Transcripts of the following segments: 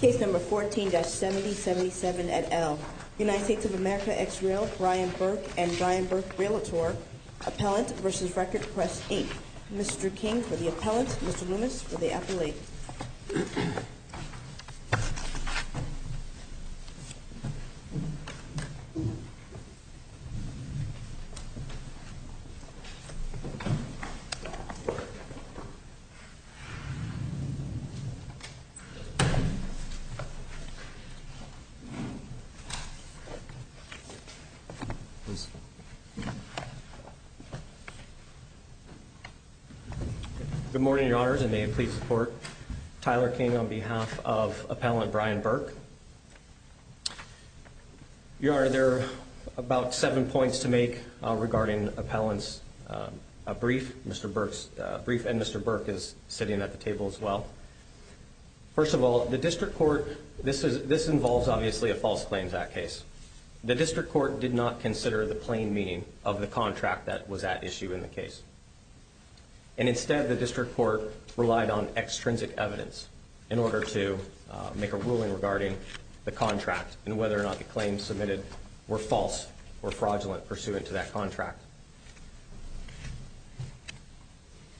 Case number 14-7077 et al., United States of America, ex-rail, Brian Burke and Brian Burke Realtor, Appellant v. Record Press, Inc. Mr. King for the Appellant, Mr. Loomis for the Appellate. Good morning, Your Honors, and may it please the Court, Tyler King on behalf of Appellant Brian Burke. Your Honor, there are about seven points to make regarding Appellant's brief, Mr. Burke's brief, and Mr. Burke is sitting at the table as well. First of all, the District Court, this involves obviously a False Claims Act case. The District Court did not consider the plain meaning of the contract that was at issue in the case. And instead, the District Court relied on extrinsic evidence in order to make a ruling regarding the contract and whether or not the claims submitted were false or fraudulent pursuant to that contract.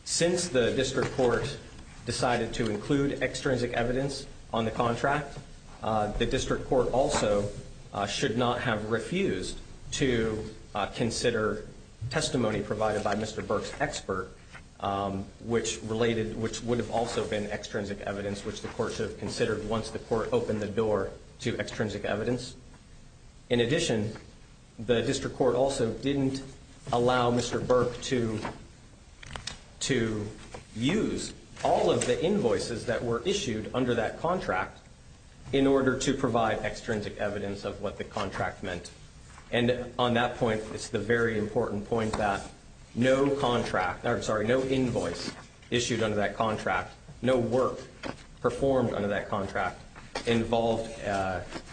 Since the District Court decided to include extrinsic evidence on the contract, the District Court also should not have refused to consider testimony provided by Mr. Burke's expert, which would have also been extrinsic evidence, which the Court should have considered once the Court opened the door to extrinsic evidence. In addition, the District Court also didn't allow Mr. Burke to use all of the invoices that were issued under that contract in order to provide extrinsic evidence of what the contract meant. And on that point, it's the very important point that no invoice issued under that contract, no work performed under that contract, involved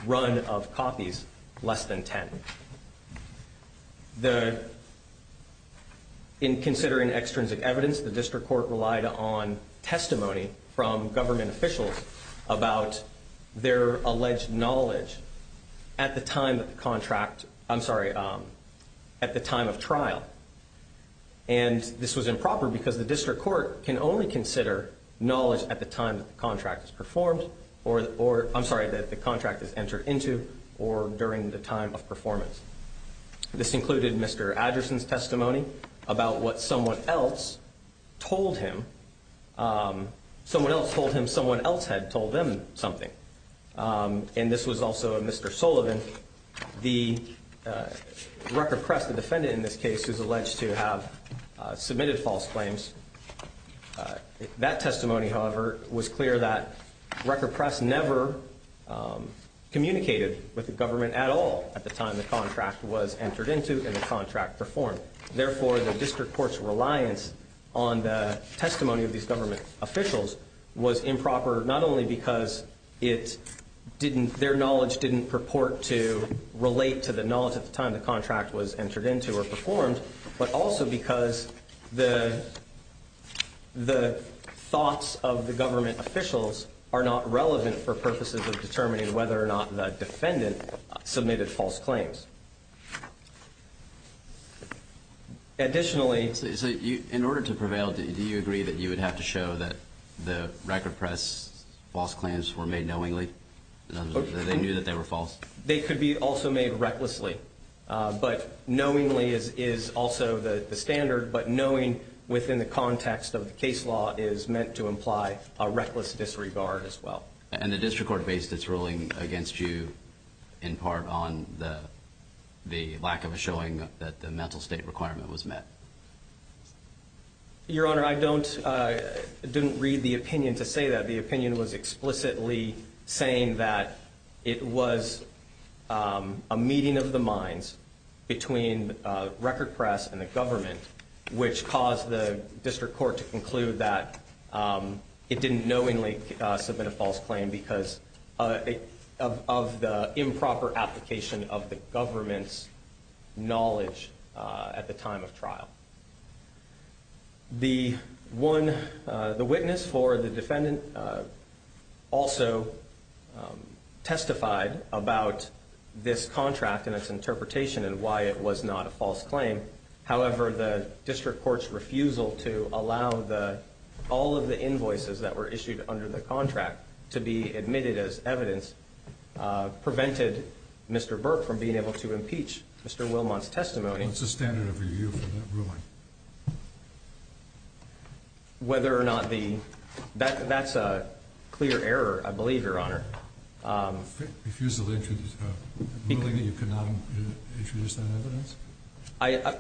run of copies less than 10. In considering extrinsic evidence, the District Court relied on testimony from government officials about their alleged knowledge at the time of the contract, I'm sorry, at the time of trial. And this was improper because the District Court can only consider knowledge at the time that the contract is performed or, I'm sorry, that the contract is entered into or during the time of performance. This included Mr. Adderson's testimony about what someone else told him. Someone else told him someone else had told them something. And this was also Mr. Sullivan, the record press, the defendant in this case, who's alleged to have submitted false claims. That testimony, however, was clear that record press never communicated with the government at all at the time the contract was entered into and the contract performed. And therefore, the District Court's reliance on the testimony of these government officials was improper not only because their knowledge didn't purport to relate to the knowledge at the time the contract was entered into or performed, but also because the thoughts of the government officials are not relevant for purposes of determining whether or not the defendant submitted false claims. Additionally... So in order to prevail, do you agree that you would have to show that the record press false claims were made knowingly, that they knew that they were false? They could be also made recklessly, but knowingly is also the standard, but knowing within the context of the case law is meant to imply a reckless disregard as well. And the District Court based its ruling against you in part on the lack of a showing that the mental state requirement was met. Your Honor, I don't didn't read the opinion to say that the opinion was explicitly saying that it was a meeting of the minds between record press and the government, which caused the District Court to conclude that it didn't knowingly submit a false claim because of the improper application of the government's knowledge at the time of trial. The witness for the defendant also testified about this contract and its interpretation and why it was not a false claim. However, the District Court's refusal to allow all of the invoices that were issued under the contract to be admitted as evidence prevented Mr. Burke from being able to impeach Mr. Wilmont's testimony. What's the standard of review for that ruling? Whether or not the... That's a clear error, I believe, Your Honor. Refusal to introduce... Willing that you could not introduce that evidence?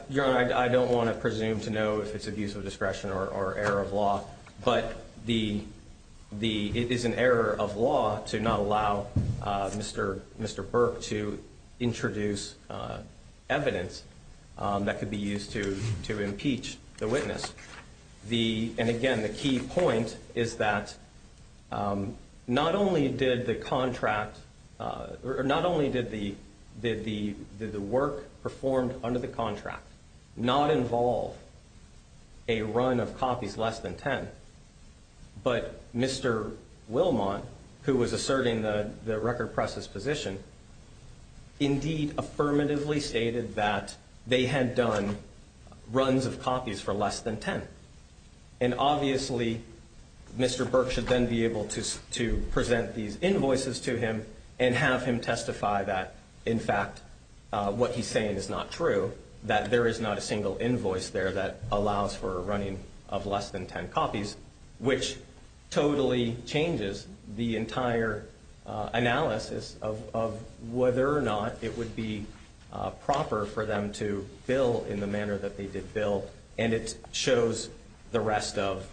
Your Honor, I don't want to presume to know if it's abuse of discretion or error of law, but it is an error of law to not allow Mr. Burke to introduce evidence that could be used to impeach the witness. And again, the key point is that not only did the contract... Not only did the work performed under the contract not involve a run of copies less than 10, but Mr. Wilmont, who was asserting the record press's position, indeed affirmatively stated that they had done runs of copies for less than 10. And obviously, Mr. Burke should then be able to present these invoices to him and have him testify that, in fact, what he's saying is not true, that there is not a single invoice there that allows for a running of less than 10 copies, which totally changes the entire analysis of whether or not it would be proper for them to bill in the manner that they did bill. And it shows the rest of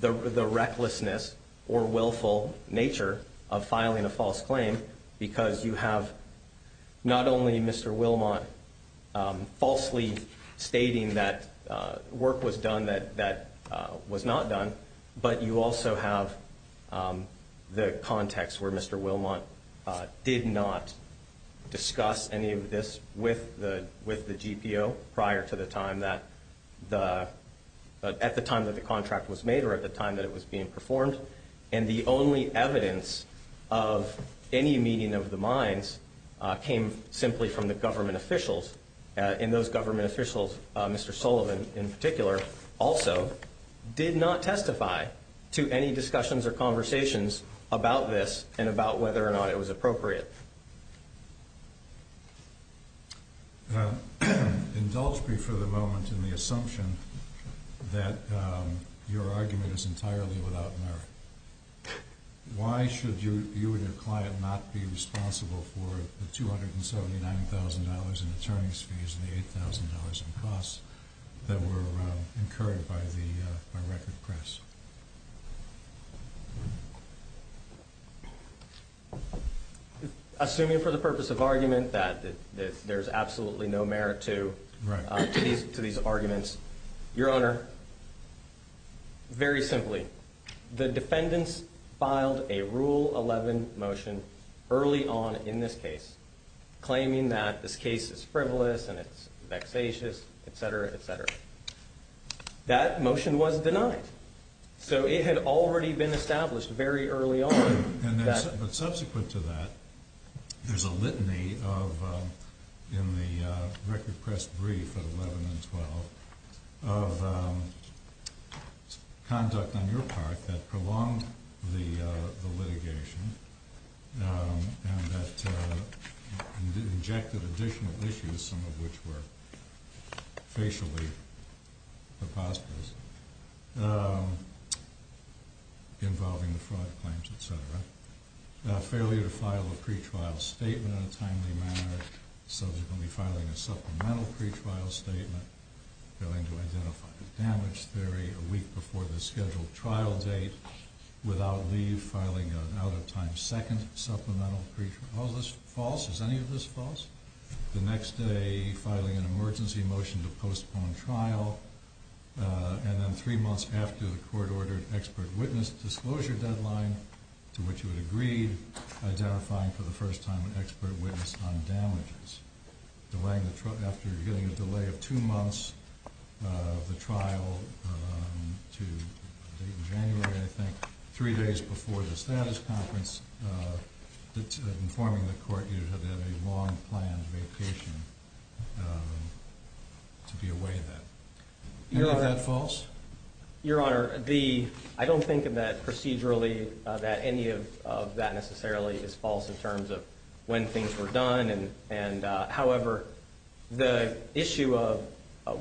the recklessness or willful nature of filing a false claim because you have not only Mr. Wilmont falsely stating that work was done that was not done, but you also have the context where Mr. Wilmont did not discuss any of this with the GPO prior to the time that the... At the time that the contract was made or at the time that it was being performed. And the only evidence of any meeting of the minds came simply from the government officials. And those government officials, Mr. Sullivan in particular, also did not testify to any discussions or conversations about this and about whether or not it was appropriate. Indulge me for the moment in the assumption that your argument is entirely without merit. Why should you and your client not be responsible for the $279,000 in attorney's fees and the $8,000 in costs that were incurred by Record Press? Assuming for the purpose of argument that there's absolutely no merit to these arguments, Your Honor, very simply, the defendants filed a Rule 11 motion early on in this case, claiming that this case is frivolous and it's vexatious, etc., etc. That motion was denied. So it had already been established very early on that... Failure to file a pretrial statement in a timely manner, subsequently filing a supplemental pretrial statement, failing to identify the damage theory a week before the scheduled trial date, without leave, filing an out-of-time second supplemental pretrial... Is all this false? Is any of this false? The next day, filing an emergency motion to postpone trial, and then three months after the court-ordered expert witness disclosure deadline, to which you had agreed, identifying for the first time an expert witness on damages. Your Honor, I don't think that procedurally that any of that necessarily is false in terms of when things were done. However, the issue of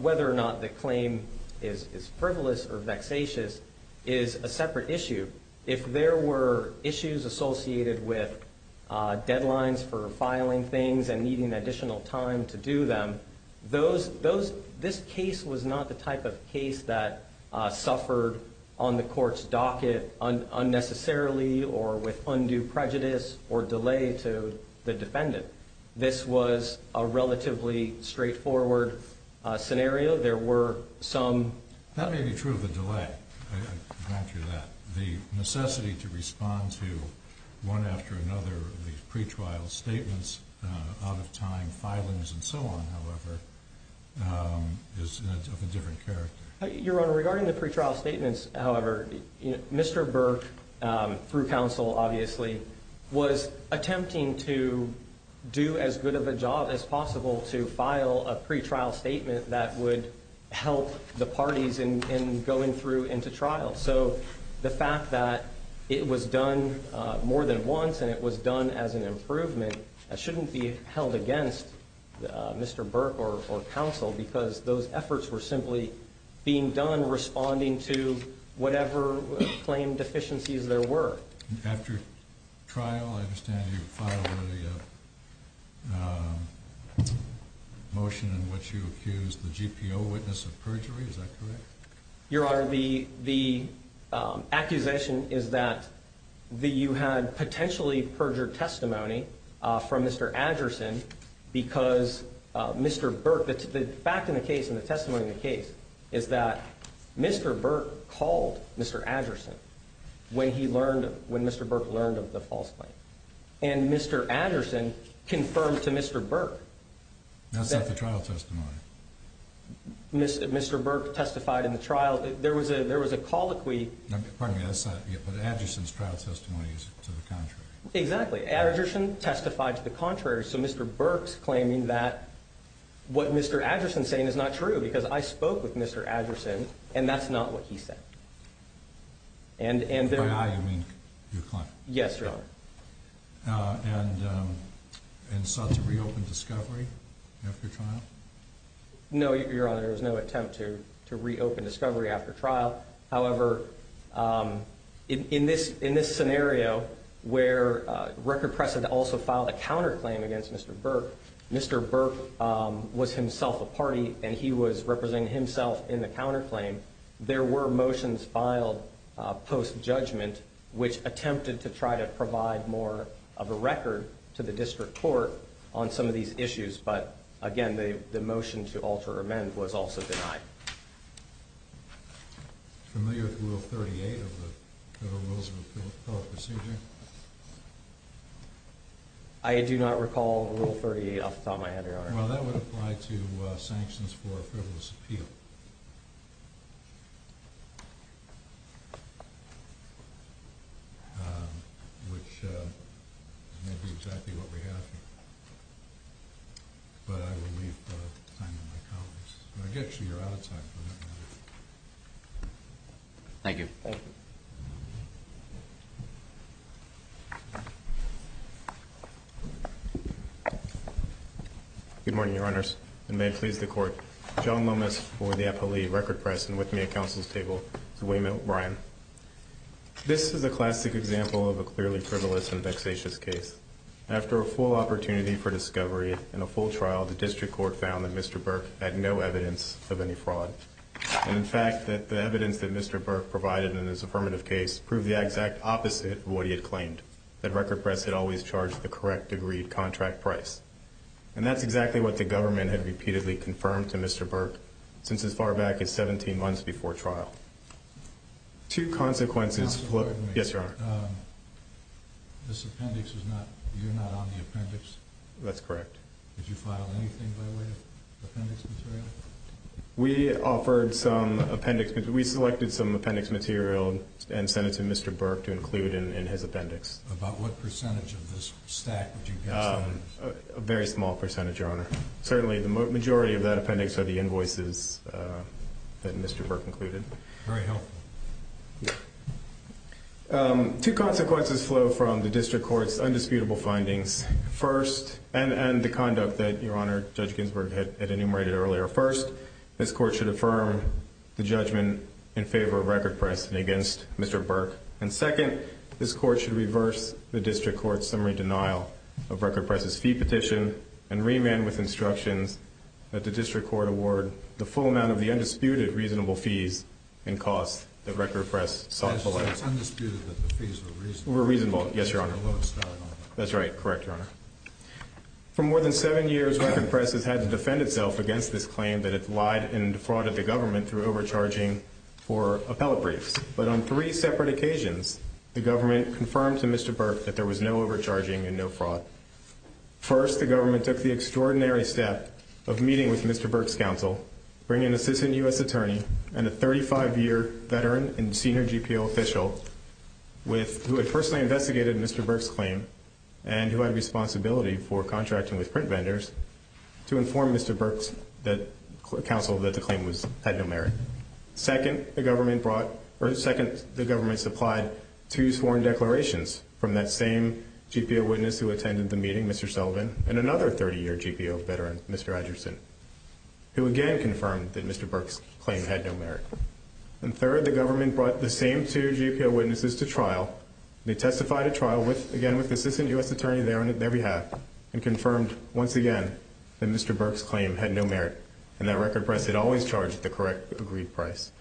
whether or not the claim is frivolous or vexatious is a separate issue. If there were issues associated with deadlines for filing things and needing additional time to do them, this case was not the type of case that suffered on the court's docket unnecessarily or with undue prejudice or delay to the defendant. This was a relatively straightforward scenario. There were some... That may be true of the delay. I grant you that. The necessity to respond to one after another of these pretrial statements, out-of-time filings and so on, however, is of a different character. Your Honor, regarding the pretrial statements, however, Mr. Burke, through counsel, obviously, was attempting to do as good of a job as possible to file a pretrial statement that would help the parties in going through into trial. So the fact that it was done more than once and it was done as an improvement, that shouldn't be held against Mr. Burke or counsel because those efforts were simply being done responding to whatever claim deficiencies there were. After trial, I understand you filed a motion in which you accused the GPO witness of perjury. Is that correct? Your Honor, the accusation is that you had potentially perjured testimony from Mr. Anderson because Mr. Burke... The fact of the case and the testimony of the case is that Mr. Burke called Mr. Anderson when he learned... When Mr. Burke learned of the false claim and Mr. Anderson confirmed to Mr. Burke... That's not the trial testimony. Mr. Burke testified in the trial. There was a colloquy... Pardon me, that's not... But Anderson's trial testimony is to the contrary. Exactly. Anderson testified to the contrary. So Mr. Burke's claiming that what Mr. Anderson's saying is not true because I spoke with Mr. Anderson and that's not what he said. By I, you mean your client. Yes, Your Honor. And sought to reopen discovery after trial? No, Your Honor. There was no attempt to reopen discovery after trial. However, in this scenario where record precedent also filed a counterclaim against Mr. Burke, Mr. Burke was himself a party and he was representing himself in the counterclaim. There were motions filed post-judgment which attempted to try to provide more of a record to the district court on some of these issues. But again, the motion to alter or amend was also denied. Familiar with Rule 38 of the Federal Rules of Appellate Procedure? I do not recall Rule 38 off the top of my head, Your Honor. Well, that would apply to sanctions for a frivolous appeal, which may be exactly what we have here. But I will leave the time to my colleagues. I guess you're out of time for that matter. Thank you. Good morning, Your Honors, and may it please the Court. John Lomas for the Appellee Record Press and with me at counsel's table is William O'Brien. This is a classic example of a clearly frivolous and vexatious case. After a full opportunity for discovery and a full trial, the district court found that Mr. Burke had no evidence of any fraud. And in fact, that the evidence that Mr. Burke provided in this affirmative case proved the exact opposite of what he had claimed, that Record Press had always charged the correct agreed contract price. And that's exactly what the government had repeatedly confirmed to Mr. Burke since as far back as 17 months before trial. Two consequences... Counsel, pardon me. Yes, Your Honor. This appendix is not... you're not on the appendix? That's correct. Did you file anything by way of appendix material? We offered some appendix... we selected some appendix material and sent it to Mr. Burke to include in his appendix. About what percentage of this stack would you guess that is? A very small percentage, Your Honor. Certainly the majority of that appendix are the invoices that Mr. Burke included. Very helpful. Two consequences flow from the district court's undisputable findings. First, and the conduct that Your Honor, Judge Ginsburg had enumerated earlier. First, this court should affirm the judgment in favor of Record Press and against Mr. Burke. And second, this court should reverse the district court's summary denial of Record Press' fee petition and remand with instructions that the district court award the full amount of the undisputed reasonable fees and costs that Record Press sought below. It's undisputed that the fees were reasonable. Were reasonable, yes, Your Honor. That's right, correct, Your Honor. For more than seven years, Record Press has had to defend itself against this claim that it lied and defrauded the government through overcharging for appellate briefs. But on three separate occasions, the government confirmed to Mr. Burke that there was no overcharging and no fraud. First, the government took the extraordinary step of meeting with Mr. Burke's counsel, bringing an assistant U.S. attorney and a 35-year veteran and senior GPO official who had personally investigated Mr. Burke's claim and who had a responsibility for contracting with print vendors to inform Mr. Burke's counsel that the claim had no merit. Second, the government supplied two sworn declarations from that same GPO witness who attended the meeting, Mr. Sullivan, and another 30-year GPO veteran, Mr. Edgerson, who again confirmed that Mr. Burke's claim had no merit. And third, the government brought the same two GPO witnesses to trial. They testified at trial again with the assistant U.S. attorney there on their behalf and that Record Press had always charged the correct agreed price.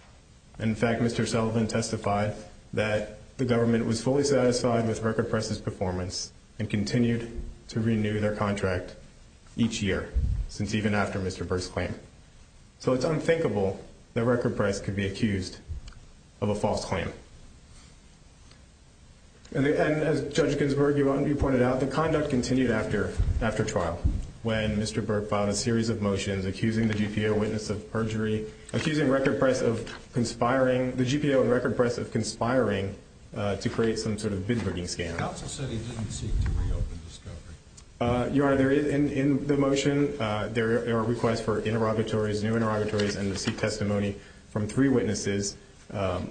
In fact, Mr. Sullivan testified that the government was fully satisfied with Record Press' performance and continued to renew their contract each year since even after Mr. Burke's claim. So it's unthinkable that Record Press could be accused of a false claim. And as Judge Ginsburg, you pointed out, the conduct continued after trial when Mr. Burke filed a series of motions accusing the GPO witness of perjury, accusing Record Press of conspiring, the GPO and Record Press of conspiring to create some sort of bid-rigging scam. Counsel said he didn't seek to reopen Discovery. Your Honor, in the motion, there are requests for new interrogatories and to seek testimony from three witnesses, a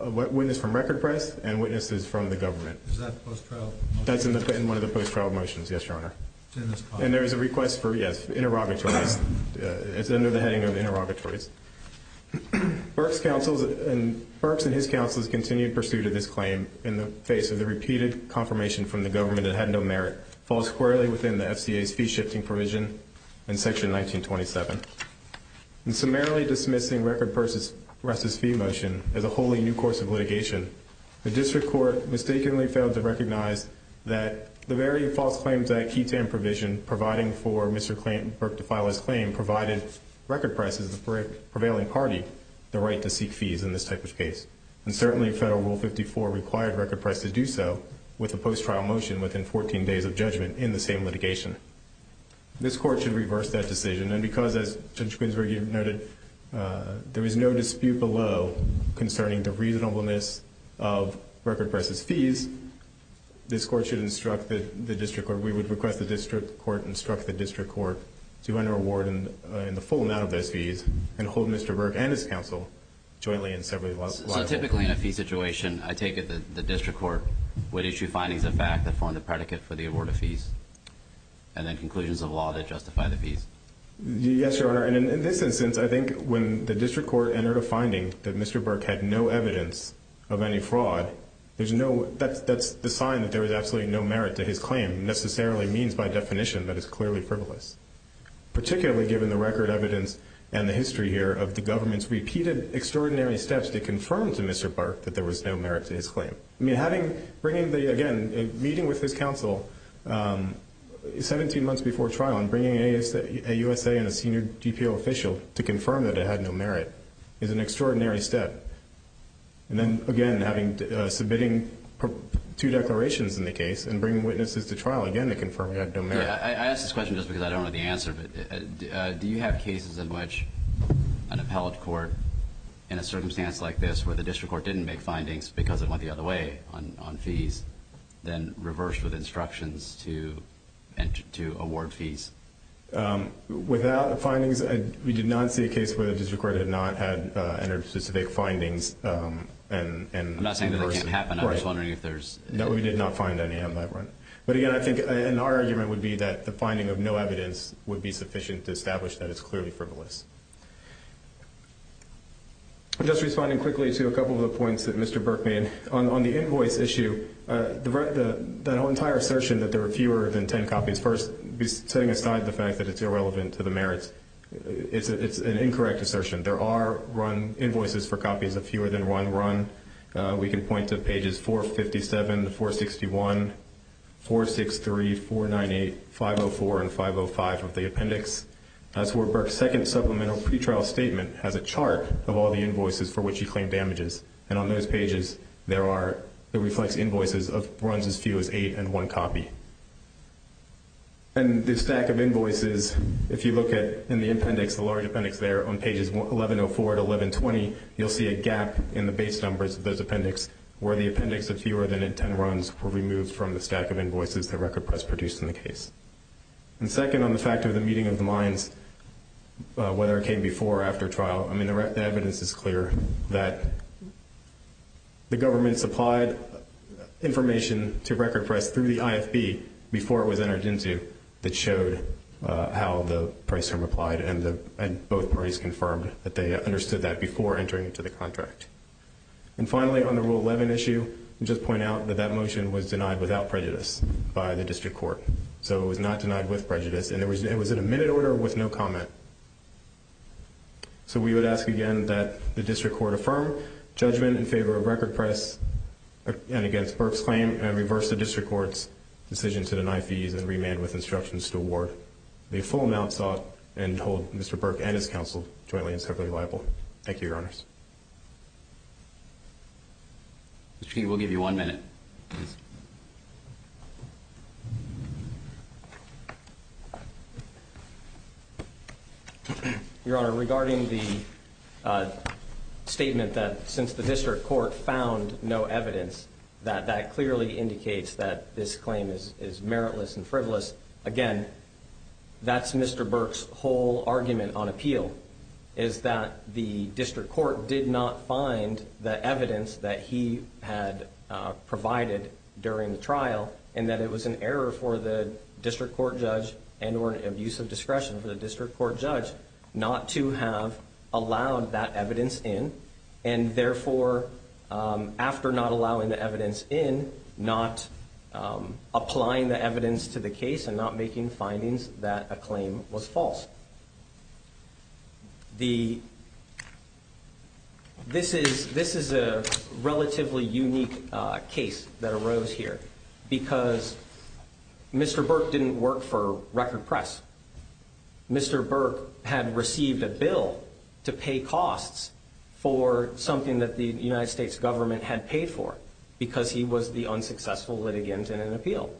witness from Record Press and witnesses from the government. Is that the post-trial motion? That's in one of the post-trial motions, yes, Your Honor. And there is a request for, yes, interrogatories. It's under the heading of interrogatories. Burke's counsel and his counsel's continued pursuit of this claim in the face of the repeated confirmation from the government it had no merit falls squarely within the FCA's fee-shifting provision in Section 1927. In summarily dismissing Record Press' fee motion as a wholly new course of litigation, the district court mistakenly failed to recognize that the very false claims that Keaton provision providing for Mr. Burke to file his claim provided Record Press as the prevailing party the right to seek fees in this type of case. And certainly Federal Rule 54 required Record Press to do so with a post-trial motion within 14 days of judgment in the same litigation. This court should reverse that decision, and because, as Judge Ginsburg noted, there is no dispute below concerning the reasonableness of Record Press' fees, this court should instruct the district court. We would request the district court instruct the district court to enter a ward in the full amount of those fees and hold Mr. Burke and his counsel jointly in severing the lawsuit. So typically in a fee situation, I take it that the district court would issue findings of fact that form the predicate for the award of fees and then conclusions of law that justify the fees. Yes, Your Honor. And in this instance, I think when the district court entered a finding that Mr. Burke had no evidence of any fraud, that's the sign that there was absolutely no merit to his claim necessarily means by definition that it's clearly frivolous, particularly given the record evidence and the history here of the government's repeated extraordinary steps to confirm to Mr. Burke that there was no merit to his claim. I mean, bringing the, again, meeting with his counsel 17 months before trial and bringing a USA and a senior GPO official to confirm that it had no merit is an extraordinary step. And then, again, submitting two declarations in the case and bringing witnesses to trial again to confirm it had no merit. I ask this question just because I don't know the answer, but do you have cases in which an appellate court in a circumstance like this where the district court didn't make findings because it went the other way on fees than reversed with instructions to award fees? Without findings, we did not see a case where the district court had not entered specific findings in person. I'm not saying that that can't happen. I'm just wondering if there's any. No, we did not find any on that run. But, again, I think our argument would be that the finding of no evidence would be sufficient to establish that it's clearly frivolous. Just responding quickly to a couple of the points that Mr. Burke made, on the invoice issue, the entire assertion that there are fewer than ten copies, first setting aside the fact that it's irrelevant to the merits, it's an incorrect assertion. There are run invoices for copies of fewer than one run. We can point to pages 457 to 461, 463, 498, 504, and 505 of the appendix. That's where Burke's second supplemental pretrial statement has a chart of all the invoices for which he claimed damages. And on those pages, there are the reflex invoices of runs as few as eight and one copy. And the stack of invoices, if you look in the appendix, the large appendix there, on pages 1104 to 1120, you'll see a gap in the base numbers of those appendix where the appendix of fewer than ten runs were removed from the stack of invoices that Record Press produced in the case. And second, on the fact of the meeting of the minds, whether it came before or after trial, I mean, the evidence is clear that the government supplied information to Record Press through the IFB before it was entered into that showed how the price term applied and both parties confirmed that they understood that before entering into the contract. And finally, on the Rule 11 issue, I'll just point out that that motion was denied without prejudice by the district court. So it was not denied with prejudice, and it was in a minute order with no comment. So we would ask again that the district court affirm judgment in favor of Record Press and against Burke's claim and reverse the district court's decision to deny fees and remand with instructions to award the full amount sought and hold Mr. Burke and his counsel jointly and separately liable. Thank you, Your Honors. Mr. King, we'll give you one minute. Your Honor, regarding the statement that since the district court found no evidence, that that clearly indicates that this claim is meritless and frivolous, again, that's Mr. Burke's whole argument on appeal, is that the district court did not find the evidence that he had provided during the trial and that it was an error for the district court judge and or an abuse of discretion for the district court judge not to have allowed that evidence in and therefore, after not allowing the evidence in, not applying the evidence to the case and not making findings that a claim was false. This is a relatively unique case that arose here because Mr. Burke didn't work for Record Press. Mr. Burke had received a bill to pay costs for something that the United States government had paid for because he was the unsuccessful litigant in an appeal.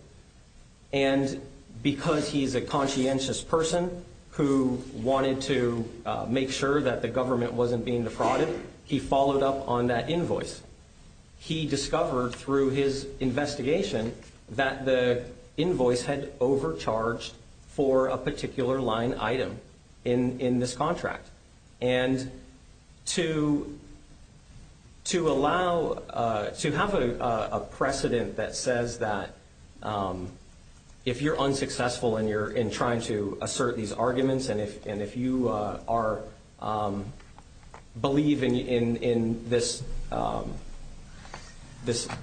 And because he's a conscientious person who wanted to make sure that the government wasn't being defrauded, he followed up on that invoice. He discovered through his investigation that the invoice had overcharged for a particular line item in this contract. And to have a precedent that says that if you're unsuccessful in trying to assert these arguments and if you are believing in this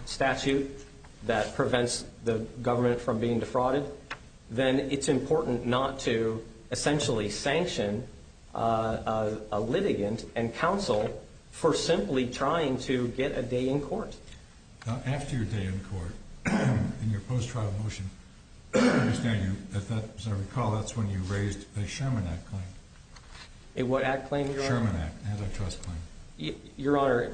statute that prevents the government from being defrauded, then it's important not to essentially sanction a litigant and counsel for simply trying to get a day in court. Now, after your day in court, in your post-trial motion, as I recall, that's when you raised a Sherman Act claim. A what act claim, Your Honor? Sherman Act antitrust claim. Your Honor,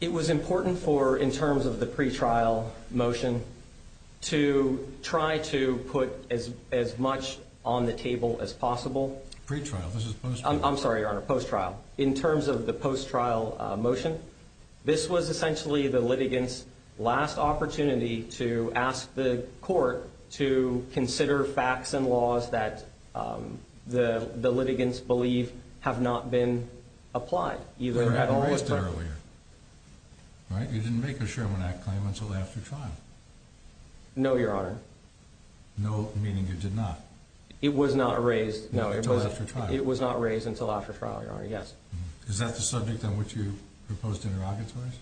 it was important for, in terms of the pre-trial motion, to try to put as much on the table as possible. Pre-trial, this is post-trial. I'm sorry, Your Honor, post-trial. In terms of the post-trial motion, this was essentially the litigant's last opportunity to ask the court to consider facts and laws that the litigants believe have not been applied, either at all. But you raised it earlier, right? You didn't make a Sherman Act claim until after trial. No, Your Honor. No, meaning you did not. It was not raised. No, until after trial. It was not raised until after trial, Your Honor. Yes. Is that the subject on which you proposed interrogatories?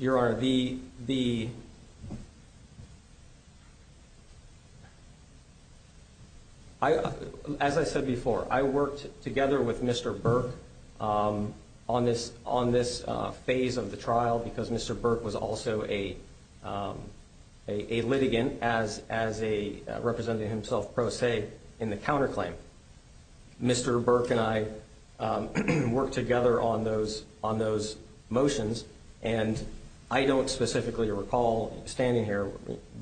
Your Honor, as I said before, I worked together with Mr. Burke on this phase of the trial because Mr. Burke was also a litigant as a representative himself pro se in the counterclaim. Mr. Burke and I worked together on those motions, and I don't specifically recall standing here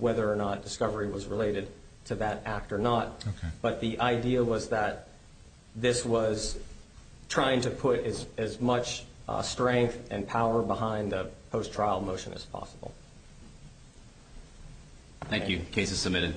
whether or not discovery was related to that act or not. Okay. But the idea was that this was trying to put as much strength and power behind the post-trial motion as possible. Thank you. Case is submitted.